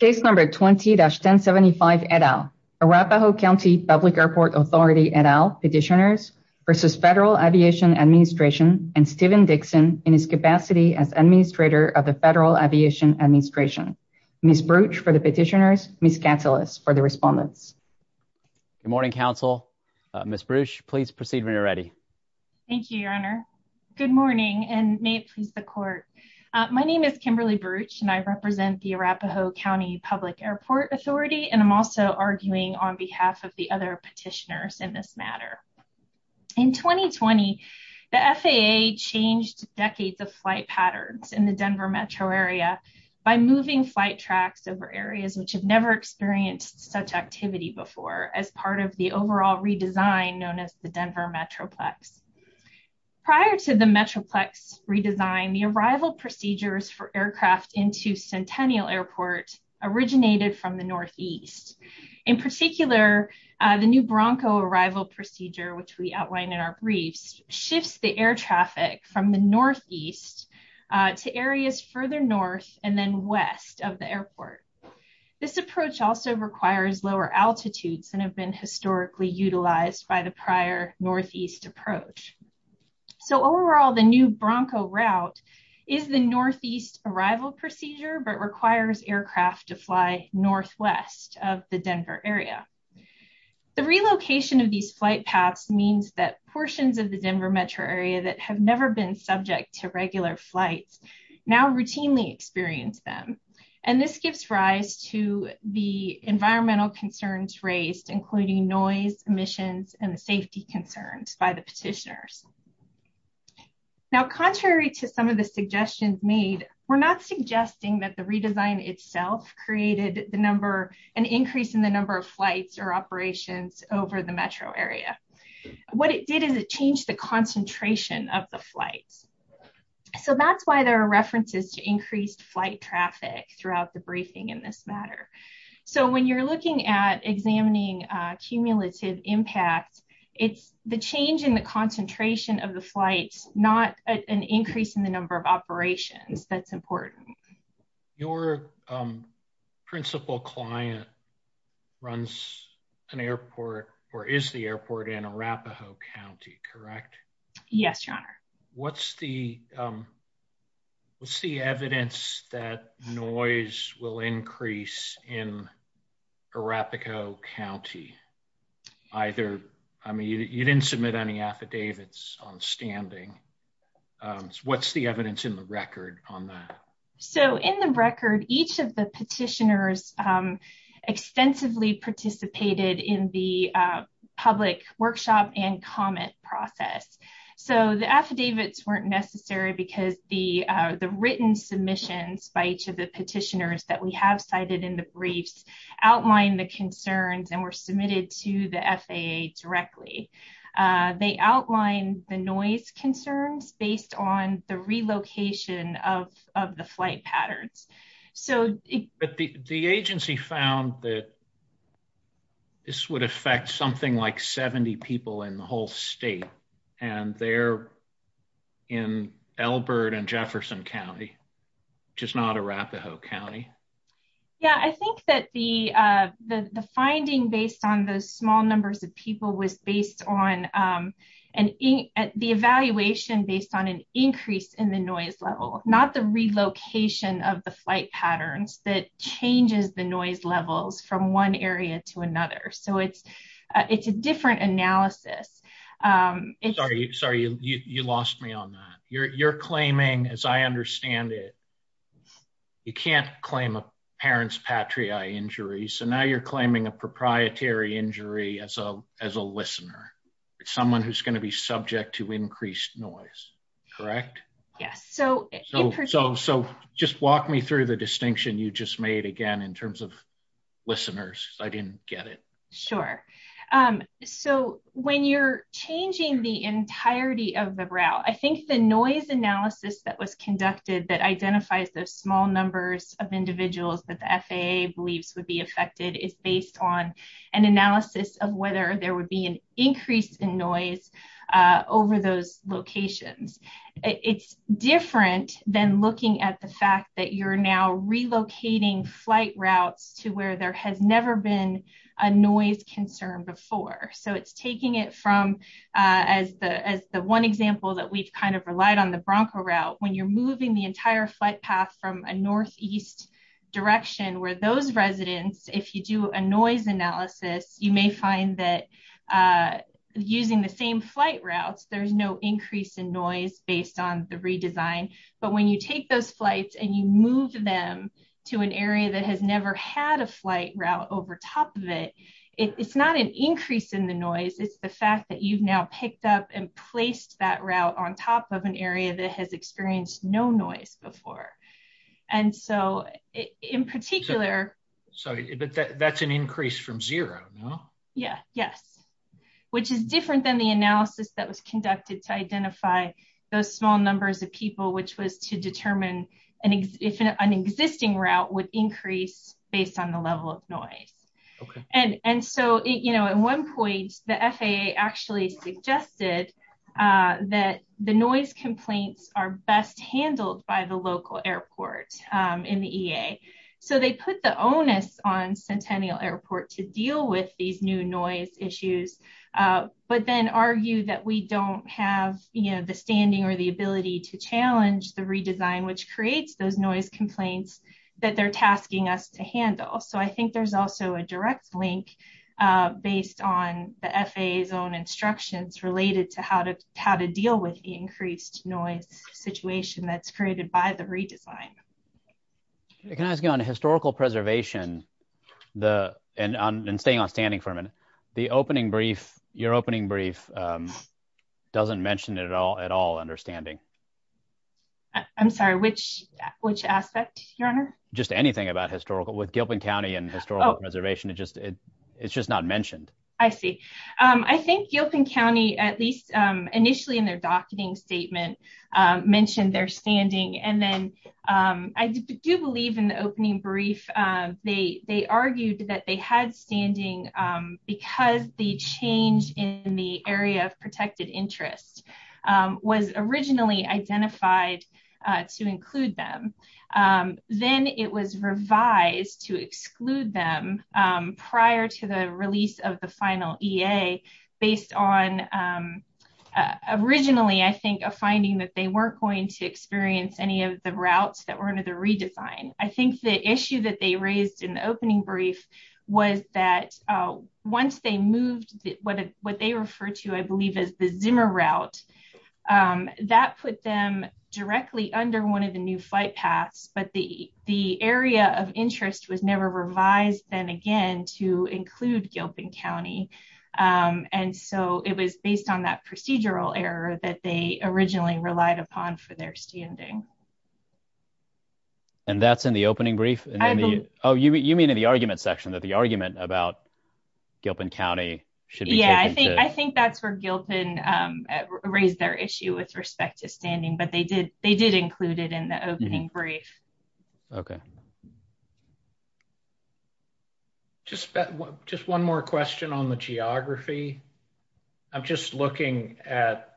Petitioners v. Federal Aviation Administration and Stephen Dixon in his capacity as Administrator of the Federal Aviation Administration. Ms. Bruch for the Petitioners, Ms. Katsilas for the Respondents. Good morning, Council. Ms. Bruch, please proceed when you're ready. Thank you, Your Honor. Good morning, and may it please the Court. My name is Kimberly Bruch, and I represent the Arapahoe County Public Airport Authority, and I'm also arguing on behalf of the other Petitioners in this matter. In 2020, the FAA changed decades of flight patterns in the Denver metro area by moving flight tracks over areas which have never experienced such activity before as part of the overall redesign known as the Denver Metroplex. Prior to the Metroplex redesign, the arrival procedures for aircraft into Centennial Airport originated from the northeast. In particular, the new Bronco arrival procedure, which we outline in our briefs, shifts the air traffic from the northeast to areas further north and then west of the airport. This approach also requires lower altitudes and have been historically utilized by the So overall, the new Bronco route is the northeast arrival procedure, but requires aircraft to fly northwest of the Denver area. The relocation of these flight paths means that portions of the Denver metro area that have never been subject to regular flights now routinely experience them, and this gives rise to the environmental concerns raised, including noise, emissions, and the safety concerns by the Petitioners. Now, contrary to some of the suggestions made, we're not suggesting that the redesign itself created an increase in the number of flights or operations over the metro area. What it did is it changed the concentration of the flights. So that's why there are references to increased flight traffic throughout the briefing in this matter. So when you're looking at examining cumulative impact, it's the change in the concentration of the flights, not an increase in the number of operations that's important. Your principal client runs an airport or is the airport in Arapahoe County, correct? Yes, your honor. What's the evidence that noise will increase in Arapahoe County? Either, I mean, you didn't submit any affidavits on standing. What's the evidence in the record on that? So in the record, each of the Petitioners extensively participated in the public workshop and comment process. So the affidavits weren't necessary because the written submissions by each of the Petitioners that we have cited in the briefs outlined the concerns and were submitted to the FAA directly. They outlined the noise concerns based on the relocation of the flight patterns. The agency found that this would affect something like 70 people in the whole state. And they're in Elbert and Jefferson County, just not Arapahoe County. Yeah, I think that the finding based on those small numbers of people was based on the evaluation based on an increase in the noise level, not the relocation of the flight patterns that changes the noise levels from one area to another. So it's a different analysis. Sorry, you lost me on that. You're claiming, as I understand it, you can't claim a parent's patriae injury. So now you're claiming a proprietary injury as a listener. It's someone who's going to be subject to increased noise, correct? Yes. So just walk me through the distinction you just made again in terms of listeners. I didn't get it. Sure. So when you're changing the entirety of the route, I think the noise analysis that was conducted that identifies those small numbers of individuals that the FAA believes would be affected is based on an analysis of whether there would be an increase in noise over those locations. It's different than looking at the fact that you're now relocating flight routes to where there has never been a noise concern before. So it's taking it from, as the one example that we've kind of relied on the Bronco route, when you're moving the entire flight path from a northeast direction where those residents, if you do a noise analysis, you may find that using the same flight routes, there's no increase in noise based on the redesign. But when you take those flights and you move them to an area that has never had a flight route over top of it, it's not an increase in the noise. It's the fact that you've now picked up and placed that route on top of an area that has experienced no noise before. And so in particular... Sorry, but that's an increase from zero, no? Yeah. Yes. Which is different than the analysis that was conducted to identify those small numbers of people, which was to determine if an existing route would increase based on the level of noise. And so at one point, the FAA actually suggested that the noise complaints are best handled by the local airport in the EA. So they put the onus on Centennial Airport to deal with these new noise issues, but then argue that we don't have the standing or the ability to challenge the redesign, which creates those noise complaints that they're tasking us to handle. So I think there's also a direct link based on the FAA's own instructions related to how to deal with the increased noise situation that's created by the redesign. Can I ask you on historical preservation, and staying on standing for a minute, the your opening brief doesn't mention it at all understanding. I'm sorry, which aspect, Your Honor? Just anything about historical... With Gilpin County and historical preservation, it's just not mentioned. I see. I think Gilpin County, at least initially in their docketing statement, mentioned their standing. And then I do believe in the opening brief, they argued that they had standing because the change in the area of protected interest was originally identified to include them. Then it was revised to exclude them prior to the release of the final EA based on originally, I think, a finding that they weren't going to experience any of the routes that were under the redesign. I think the issue that they raised in the opening brief was that once they moved what they refer to, I believe, as the Zimmer route, that put them directly under one of the new flight paths. But the area of interest was never revised then again to include Gilpin County. And so it was based on that procedural error that they originally relied upon for their standing. And that's in the opening brief? Oh, you mean in the argument section that the argument about Gilpin County should be taken to... I think that's where Gilpin raised their issue with respect to standing, but they did include it in the opening brief. Okay. Just one more question on the geography. I'm just looking at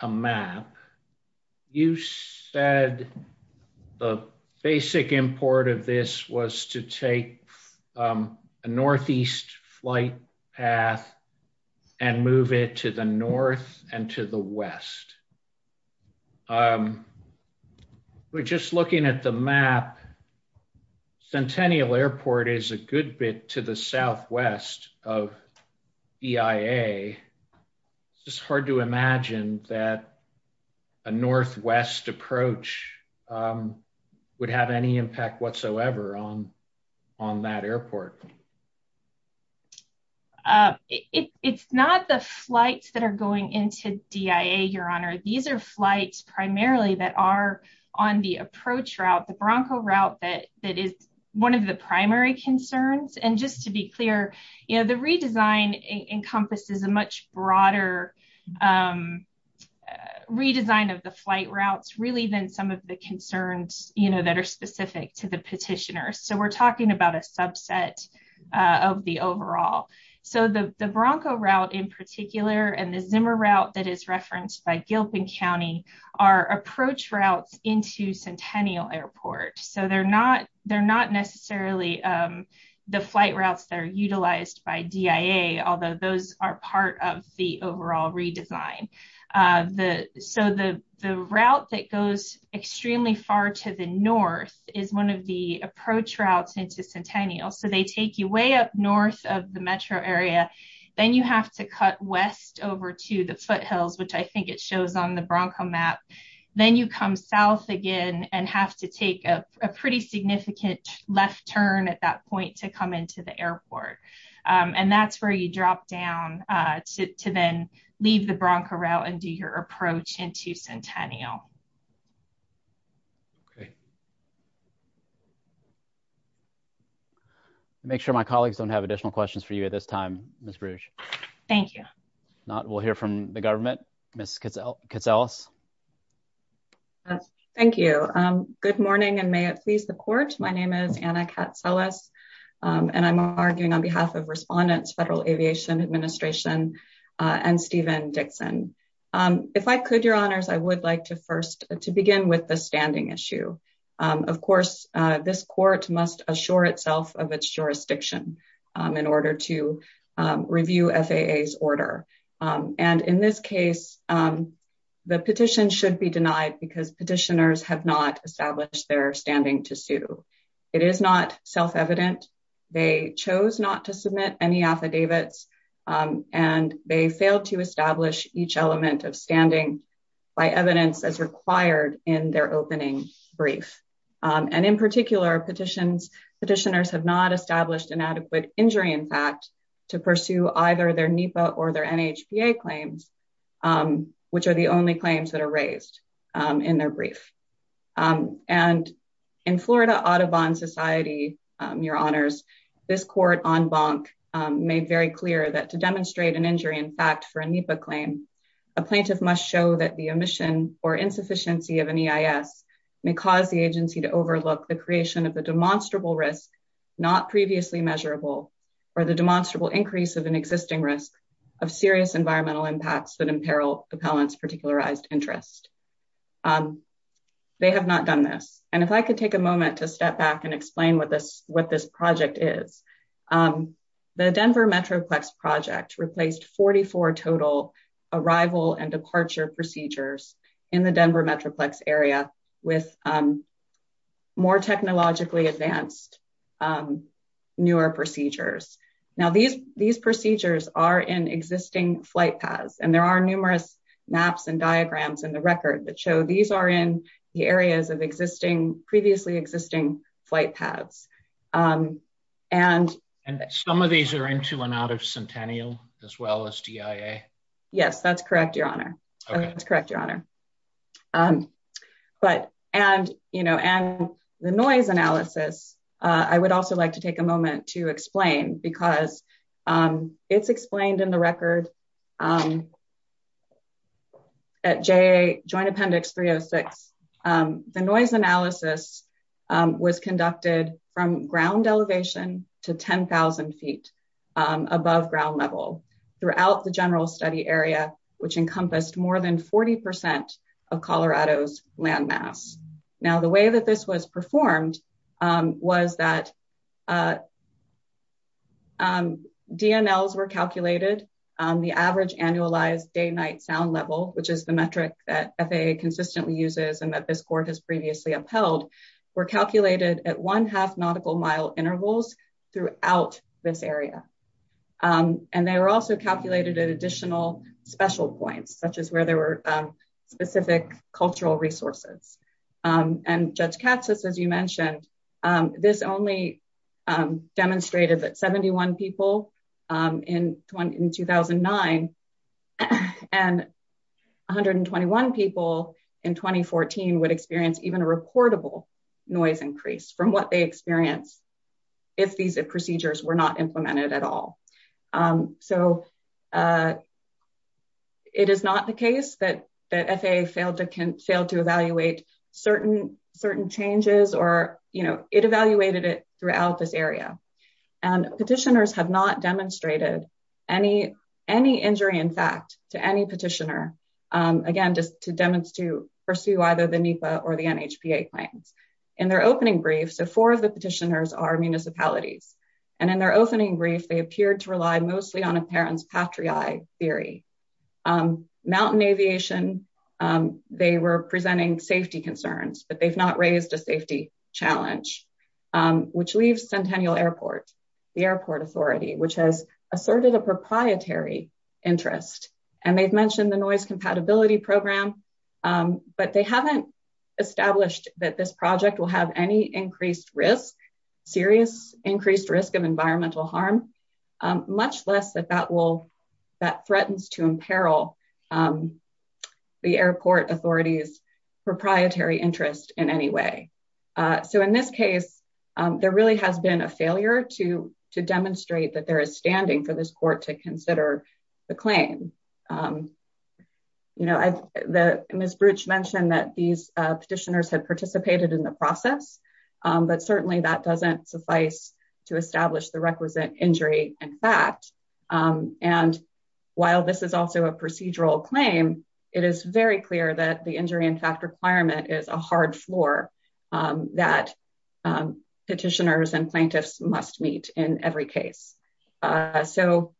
a map. You said the basic import of this was to take a northeast flight path and move it to the north and to the west. But just looking at the map, Centennial Airport is a good bit to the southwest of EIA. It's just hard to imagine that a northwest approach would have any impact whatsoever on that airport. It's not the flights that are going into DIA, Your Honor. These are flights primarily that are on the approach route, the Bronco route, that is one of the primary concerns. And just to be clear, the redesign encompasses a much broader redesign of the flight routes really than some of the concerns that are specific to the petitioner. So we're talking about a subset of the overall. So the Bronco route in particular and the Zimmer route that is referenced by Gilpin County are approach routes into Centennial Airport. So they're not necessarily the flight routes that are utilized by DIA, although those are part of the overall redesign. So the route that goes extremely far to the north is one of the approach routes into Centennial. So they take you way up north of the metro area. Then you have to cut west over to the foothills, which I think it shows on the Bronco map. Then you come south again and have to take a pretty significant left turn at that point to come into the airport. And that's where you drop down to then leave the Bronco route and do your approach into Centennial. Make sure my colleagues don't have additional questions for you at this time, Ms. Brugge. Thank you. We'll hear from the government, Ms. Katselis. Good morning and may it please the court. My name is Anna Katselis and I'm arguing on behalf of respondents, Federal Aviation Administration and Steven Dixon. If I could, your honors, I would like to first to begin with the standing issue. Of course, this court must assure itself of its jurisdiction in order to review FAA's order. And in this case, the petition should be denied because petitioners have not established their standing to sue. It is not self-evident. They chose not to submit any affidavits and they failed to establish each element of standing by evidence as required in their opening brief. And in particular, petitioners have not established inadequate injury in fact to pursue either their NEPA or their NHPA claims, which are the only claims that are raised in their brief. And in Florida Audubon Society, your honors, this court en banc made very clear that to demonstrate an injury in fact for a NEPA claim, a plaintiff must show that the omission or insufficiency of an EIS may cause the agency to overlook the creation of a demonstrable risk, not previously measurable, or the demonstrable increase of an existing risk of serious environmental impacts that imperil appellant's particularized interest. They have not done this. And if I could take a moment to step back and explain what this project is. The Denver Metroplex project replaced 44 total arrival and departure procedures in the Denver Metroplex area with more technologically advanced newer procedures. Now these procedures are in existing flight paths and there are numerous maps and diagrams in the record that show these are in the areas of existing previously existing flight paths. And, and some of these are into and out of Centennial, as well as DIA. Yes, that's correct, your honor. That's correct, your honor. But, and, you know, and the noise analysis. I would also like to take a moment to explain because it's explained in the record. At J joint appendix 306. The noise analysis was conducted from ground elevation to 10,000 feet above ground level throughout the general study area, which encompassed more than 40% of Colorado's landmass. Now the way that this was performed was that DNLs were calculated on the average annualized day night sound level, which is the metric that FAA consistently uses and that this court has previously upheld were calculated at one half nautical mile intervals throughout this area. And they were also calculated an additional special points, such as where there were specific cultural resources and Judge Katz says, as you mentioned, this only demonstrated that 71 people in 2009 and 121 people in 2014 would experience even a reportable noise increase from what they experience if these procedures were not implemented at all. So, it is not the case that that FAA failed to can fail to evaluate certain, certain changes or, it evaluated it throughout this area and petitioners have not demonstrated any injury in fact to any petitioner again just to demonstrate to pursue either the NEPA or the NHPA plans. In their opening brief, so four of the petitioners are municipalities, and in their opening brief they appeared to rely mostly on a parent's patriae theory. Mountain aviation, they were presenting safety concerns, but they've not raised a safety challenge, which leaves Centennial Airport, the airport authority which has asserted a proprietary interest, and they've mentioned the noise compatibility program, but they haven't established that this project will have any increased risk, serious increased risk of environmental harm, much less that that will that threatens to imperil the airport authorities proprietary interest in any way. So in this case, there really has been a failure to to demonstrate that there is standing for this court to consider the claim. You know, I, the Ms. Bruch mentioned that these petitioners had participated in the process, but certainly that doesn't suffice to establish the requisite injury in fact, and while this is also a procedural claim, it is very clear that the injury in fact requirement is a hard floor that petitioners and plaintiffs must meet in every case. So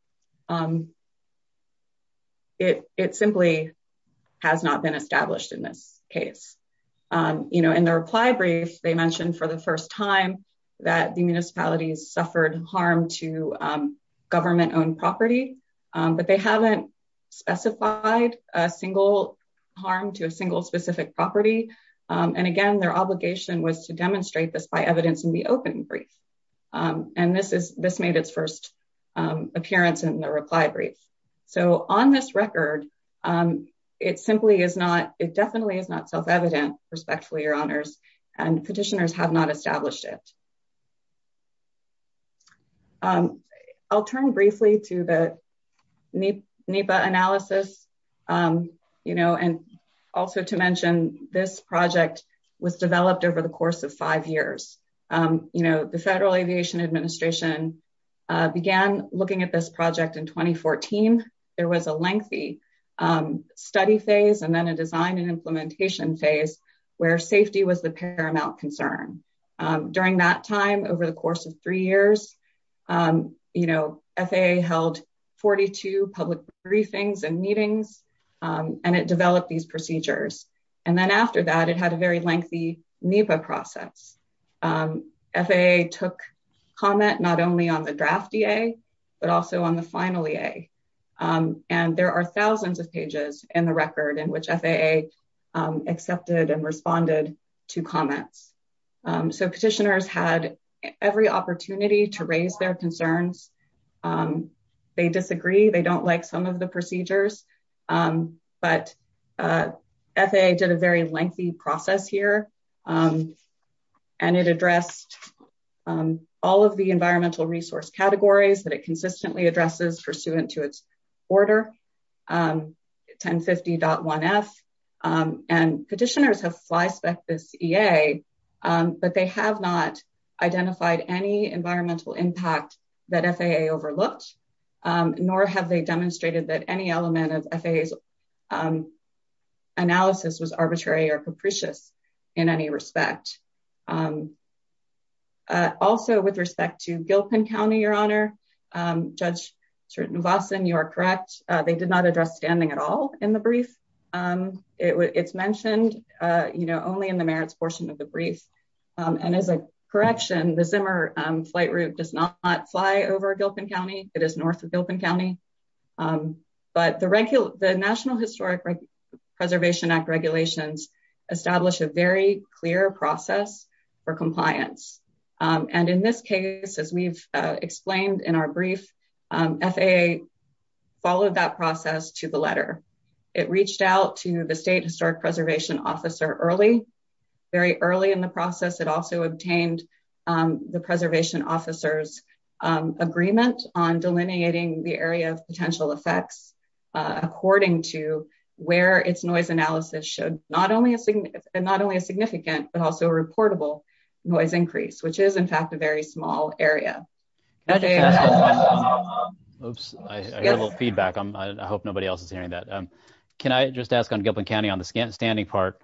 it simply has not been established in this case. You know, in the reply brief, they mentioned for the first time that the municipalities suffered harm to government owned property, but they haven't specified a single harm to a single specific property. And again, their obligation was to demonstrate this by evidence in the open brief. And this is this made its first appearance in the reply brief. So on this record, it simply is not it definitely is not self evident, respectfully, your honors, and petitioners have not established it. I'll turn briefly to the NEPA analysis. You know, and also to mention, this project was developed over the course of five years. You know, the Federal Aviation Administration began looking at this project in 2014. There was a lengthy study phase and then a design implementation phase, where safety was the paramount concern. During that time, over the course of three years, you know, FAA held 42 public briefings and meetings, and it developed these procedures. And then after that, it had a very lengthy NEPA process. FAA took comment not only on the draft EA, but also on the final EA. And there are 1000s of pages in the record in which FAA accepted and responded to comments. So petitioners had every opportunity to raise their concerns. They disagree, they don't like some of the procedures. But FAA did a very lengthy process here. And it addressed all of the environmental resource categories that it And petitioners have flyspecked this EA, but they have not identified any environmental impact that FAA overlooked, nor have they demonstrated that any element of FAA's analysis was arbitrary or capricious in any respect. Also, with respect to Gilpin County, Your Honor, Judge Nivasan, you are correct, they did not address standing at all in the brief. It's mentioned, you know, only in the merits portion of the brief. And as a correction, the Zimmer flight route does not fly over Gilpin County, it is north of Gilpin County. But the National Historic Preservation Act regulations establish a very clear process for compliance. And in this case, as we've explained in our brief, FAA followed that process to the letter. It reached out to the State Historic Preservation Officer early, very early in the process, it also obtained the Preservation Officer's agreement on delineating the area of potential effects, according to where its noise analysis showed not only a significant but also reportable noise increase, which is in fact, a very small area. Oops, I got a little feedback. I hope nobody else is hearing that. Can I just ask on Gilpin County on the scanning standing part?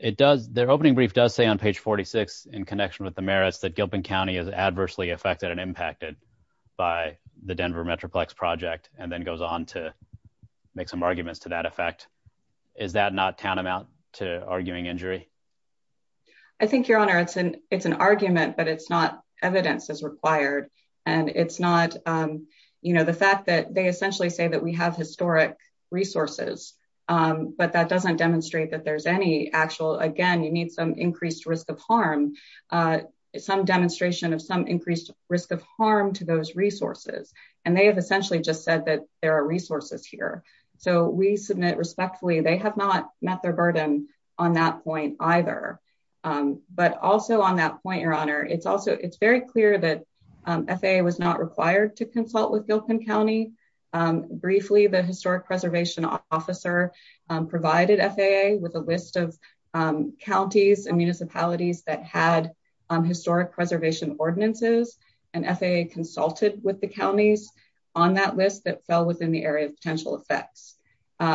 It does their opening brief does say on page 46, in connection with the merits that Gilpin County is adversely affected and impacted by the Denver Metroplex project and then goes on to make some arguments to that effect. Is that not tantamount to arguing injury? I think Your Honor, it's an it's an argument, but it's not evidence is required. And it's not, you know, the fact that they essentially say that we have historic resources, but that doesn't demonstrate that there's any actual, again, you need some increased risk of harm, some demonstration of some increased risk of harm to those resources. And they have essentially just said that there are resources here. So we submit respectfully, they have not met their burden on that point either. But also on that point, Your Honor, it's also it's very clear that FAA was not required to consult with Gilpin County. Briefly, the historic preservation officer provided FAA with a list of counties and municipalities that had historic preservation ordinances. And FAA consulted with the counties on that list that fell within the area of potential effects.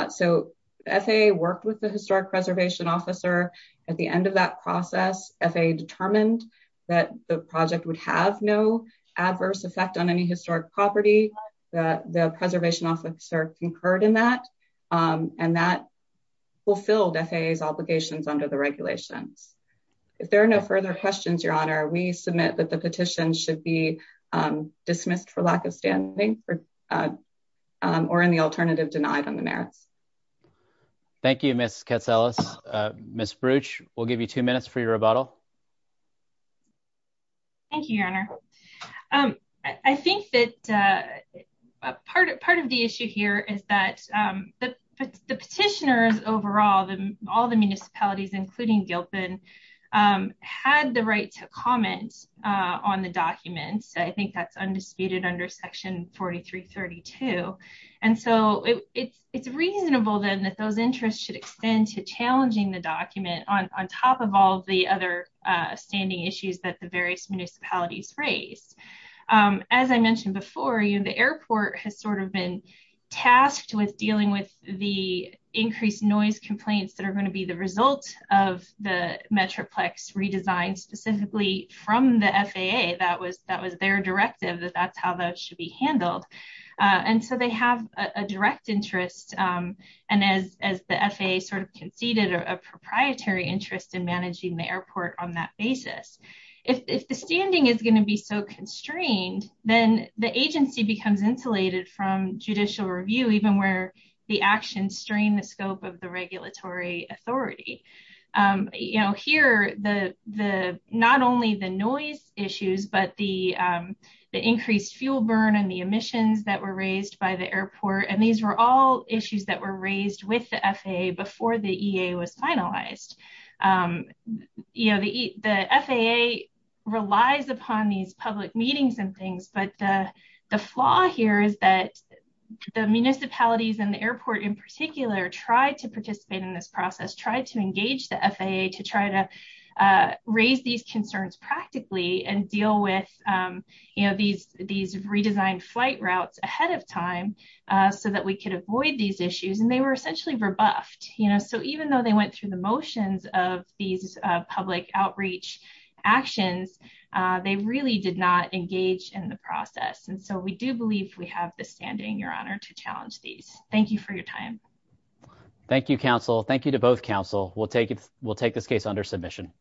So FAA worked with the that the project would have no adverse effect on any historic property, that the preservation officer concurred in that. And that fulfilled FAA's obligations under the regulations. If there are no further questions, Your Honor, we submit that the petition should be dismissed for lack of standing or in the alternative denied on the merits. Thank you, Ms. Katselas. Ms. Bruch, we'll give you two minutes for your rebuttal. Thank you, Your Honor. I think that part of the issue here is that the petitioners overall, all the municipalities, including Gilpin, had the right to comment on the documents. I think that's undisputed under Section 4332. And so it's reasonable then that those interests should extend to challenging the document on top of all the other standing issues that the various municipalities raised. As I mentioned before, the airport has sort of been tasked with dealing with the increased noise complaints that are going to be the result of the Metroplex redesign, specifically from the FAA. That was their directive that that's how that should be handled. And so they have a direct interest, and as the FAA sort of conceded, a proprietary interest in managing the airport on that basis. If the standing is going to be so constrained, then the agency becomes insulated from judicial review, even where the actions strain the scope of the regulatory authority. Here, not only the noise issues, but the increased fuel burn and the emissions that were raised by the airport, and these were all issues that were raised with the FAA before the EA was finalized. The FAA relies upon these public meetings and things, but the flaw here is that the municipalities and the airport in particular tried to participate in this process, tried to engage the FAA to try to raise these concerns practically and deal with these redesigned flight routes ahead of time so that we could avoid these issues, and they were essentially rebuffed. So even though they went through the motions of these public outreach actions, they really did not engage in the process, and so we do believe we have the standing, Your Honor, to challenge these. Thank you for your time. Thank you, counsel. Thank you to both counsel. We'll take this case under submission.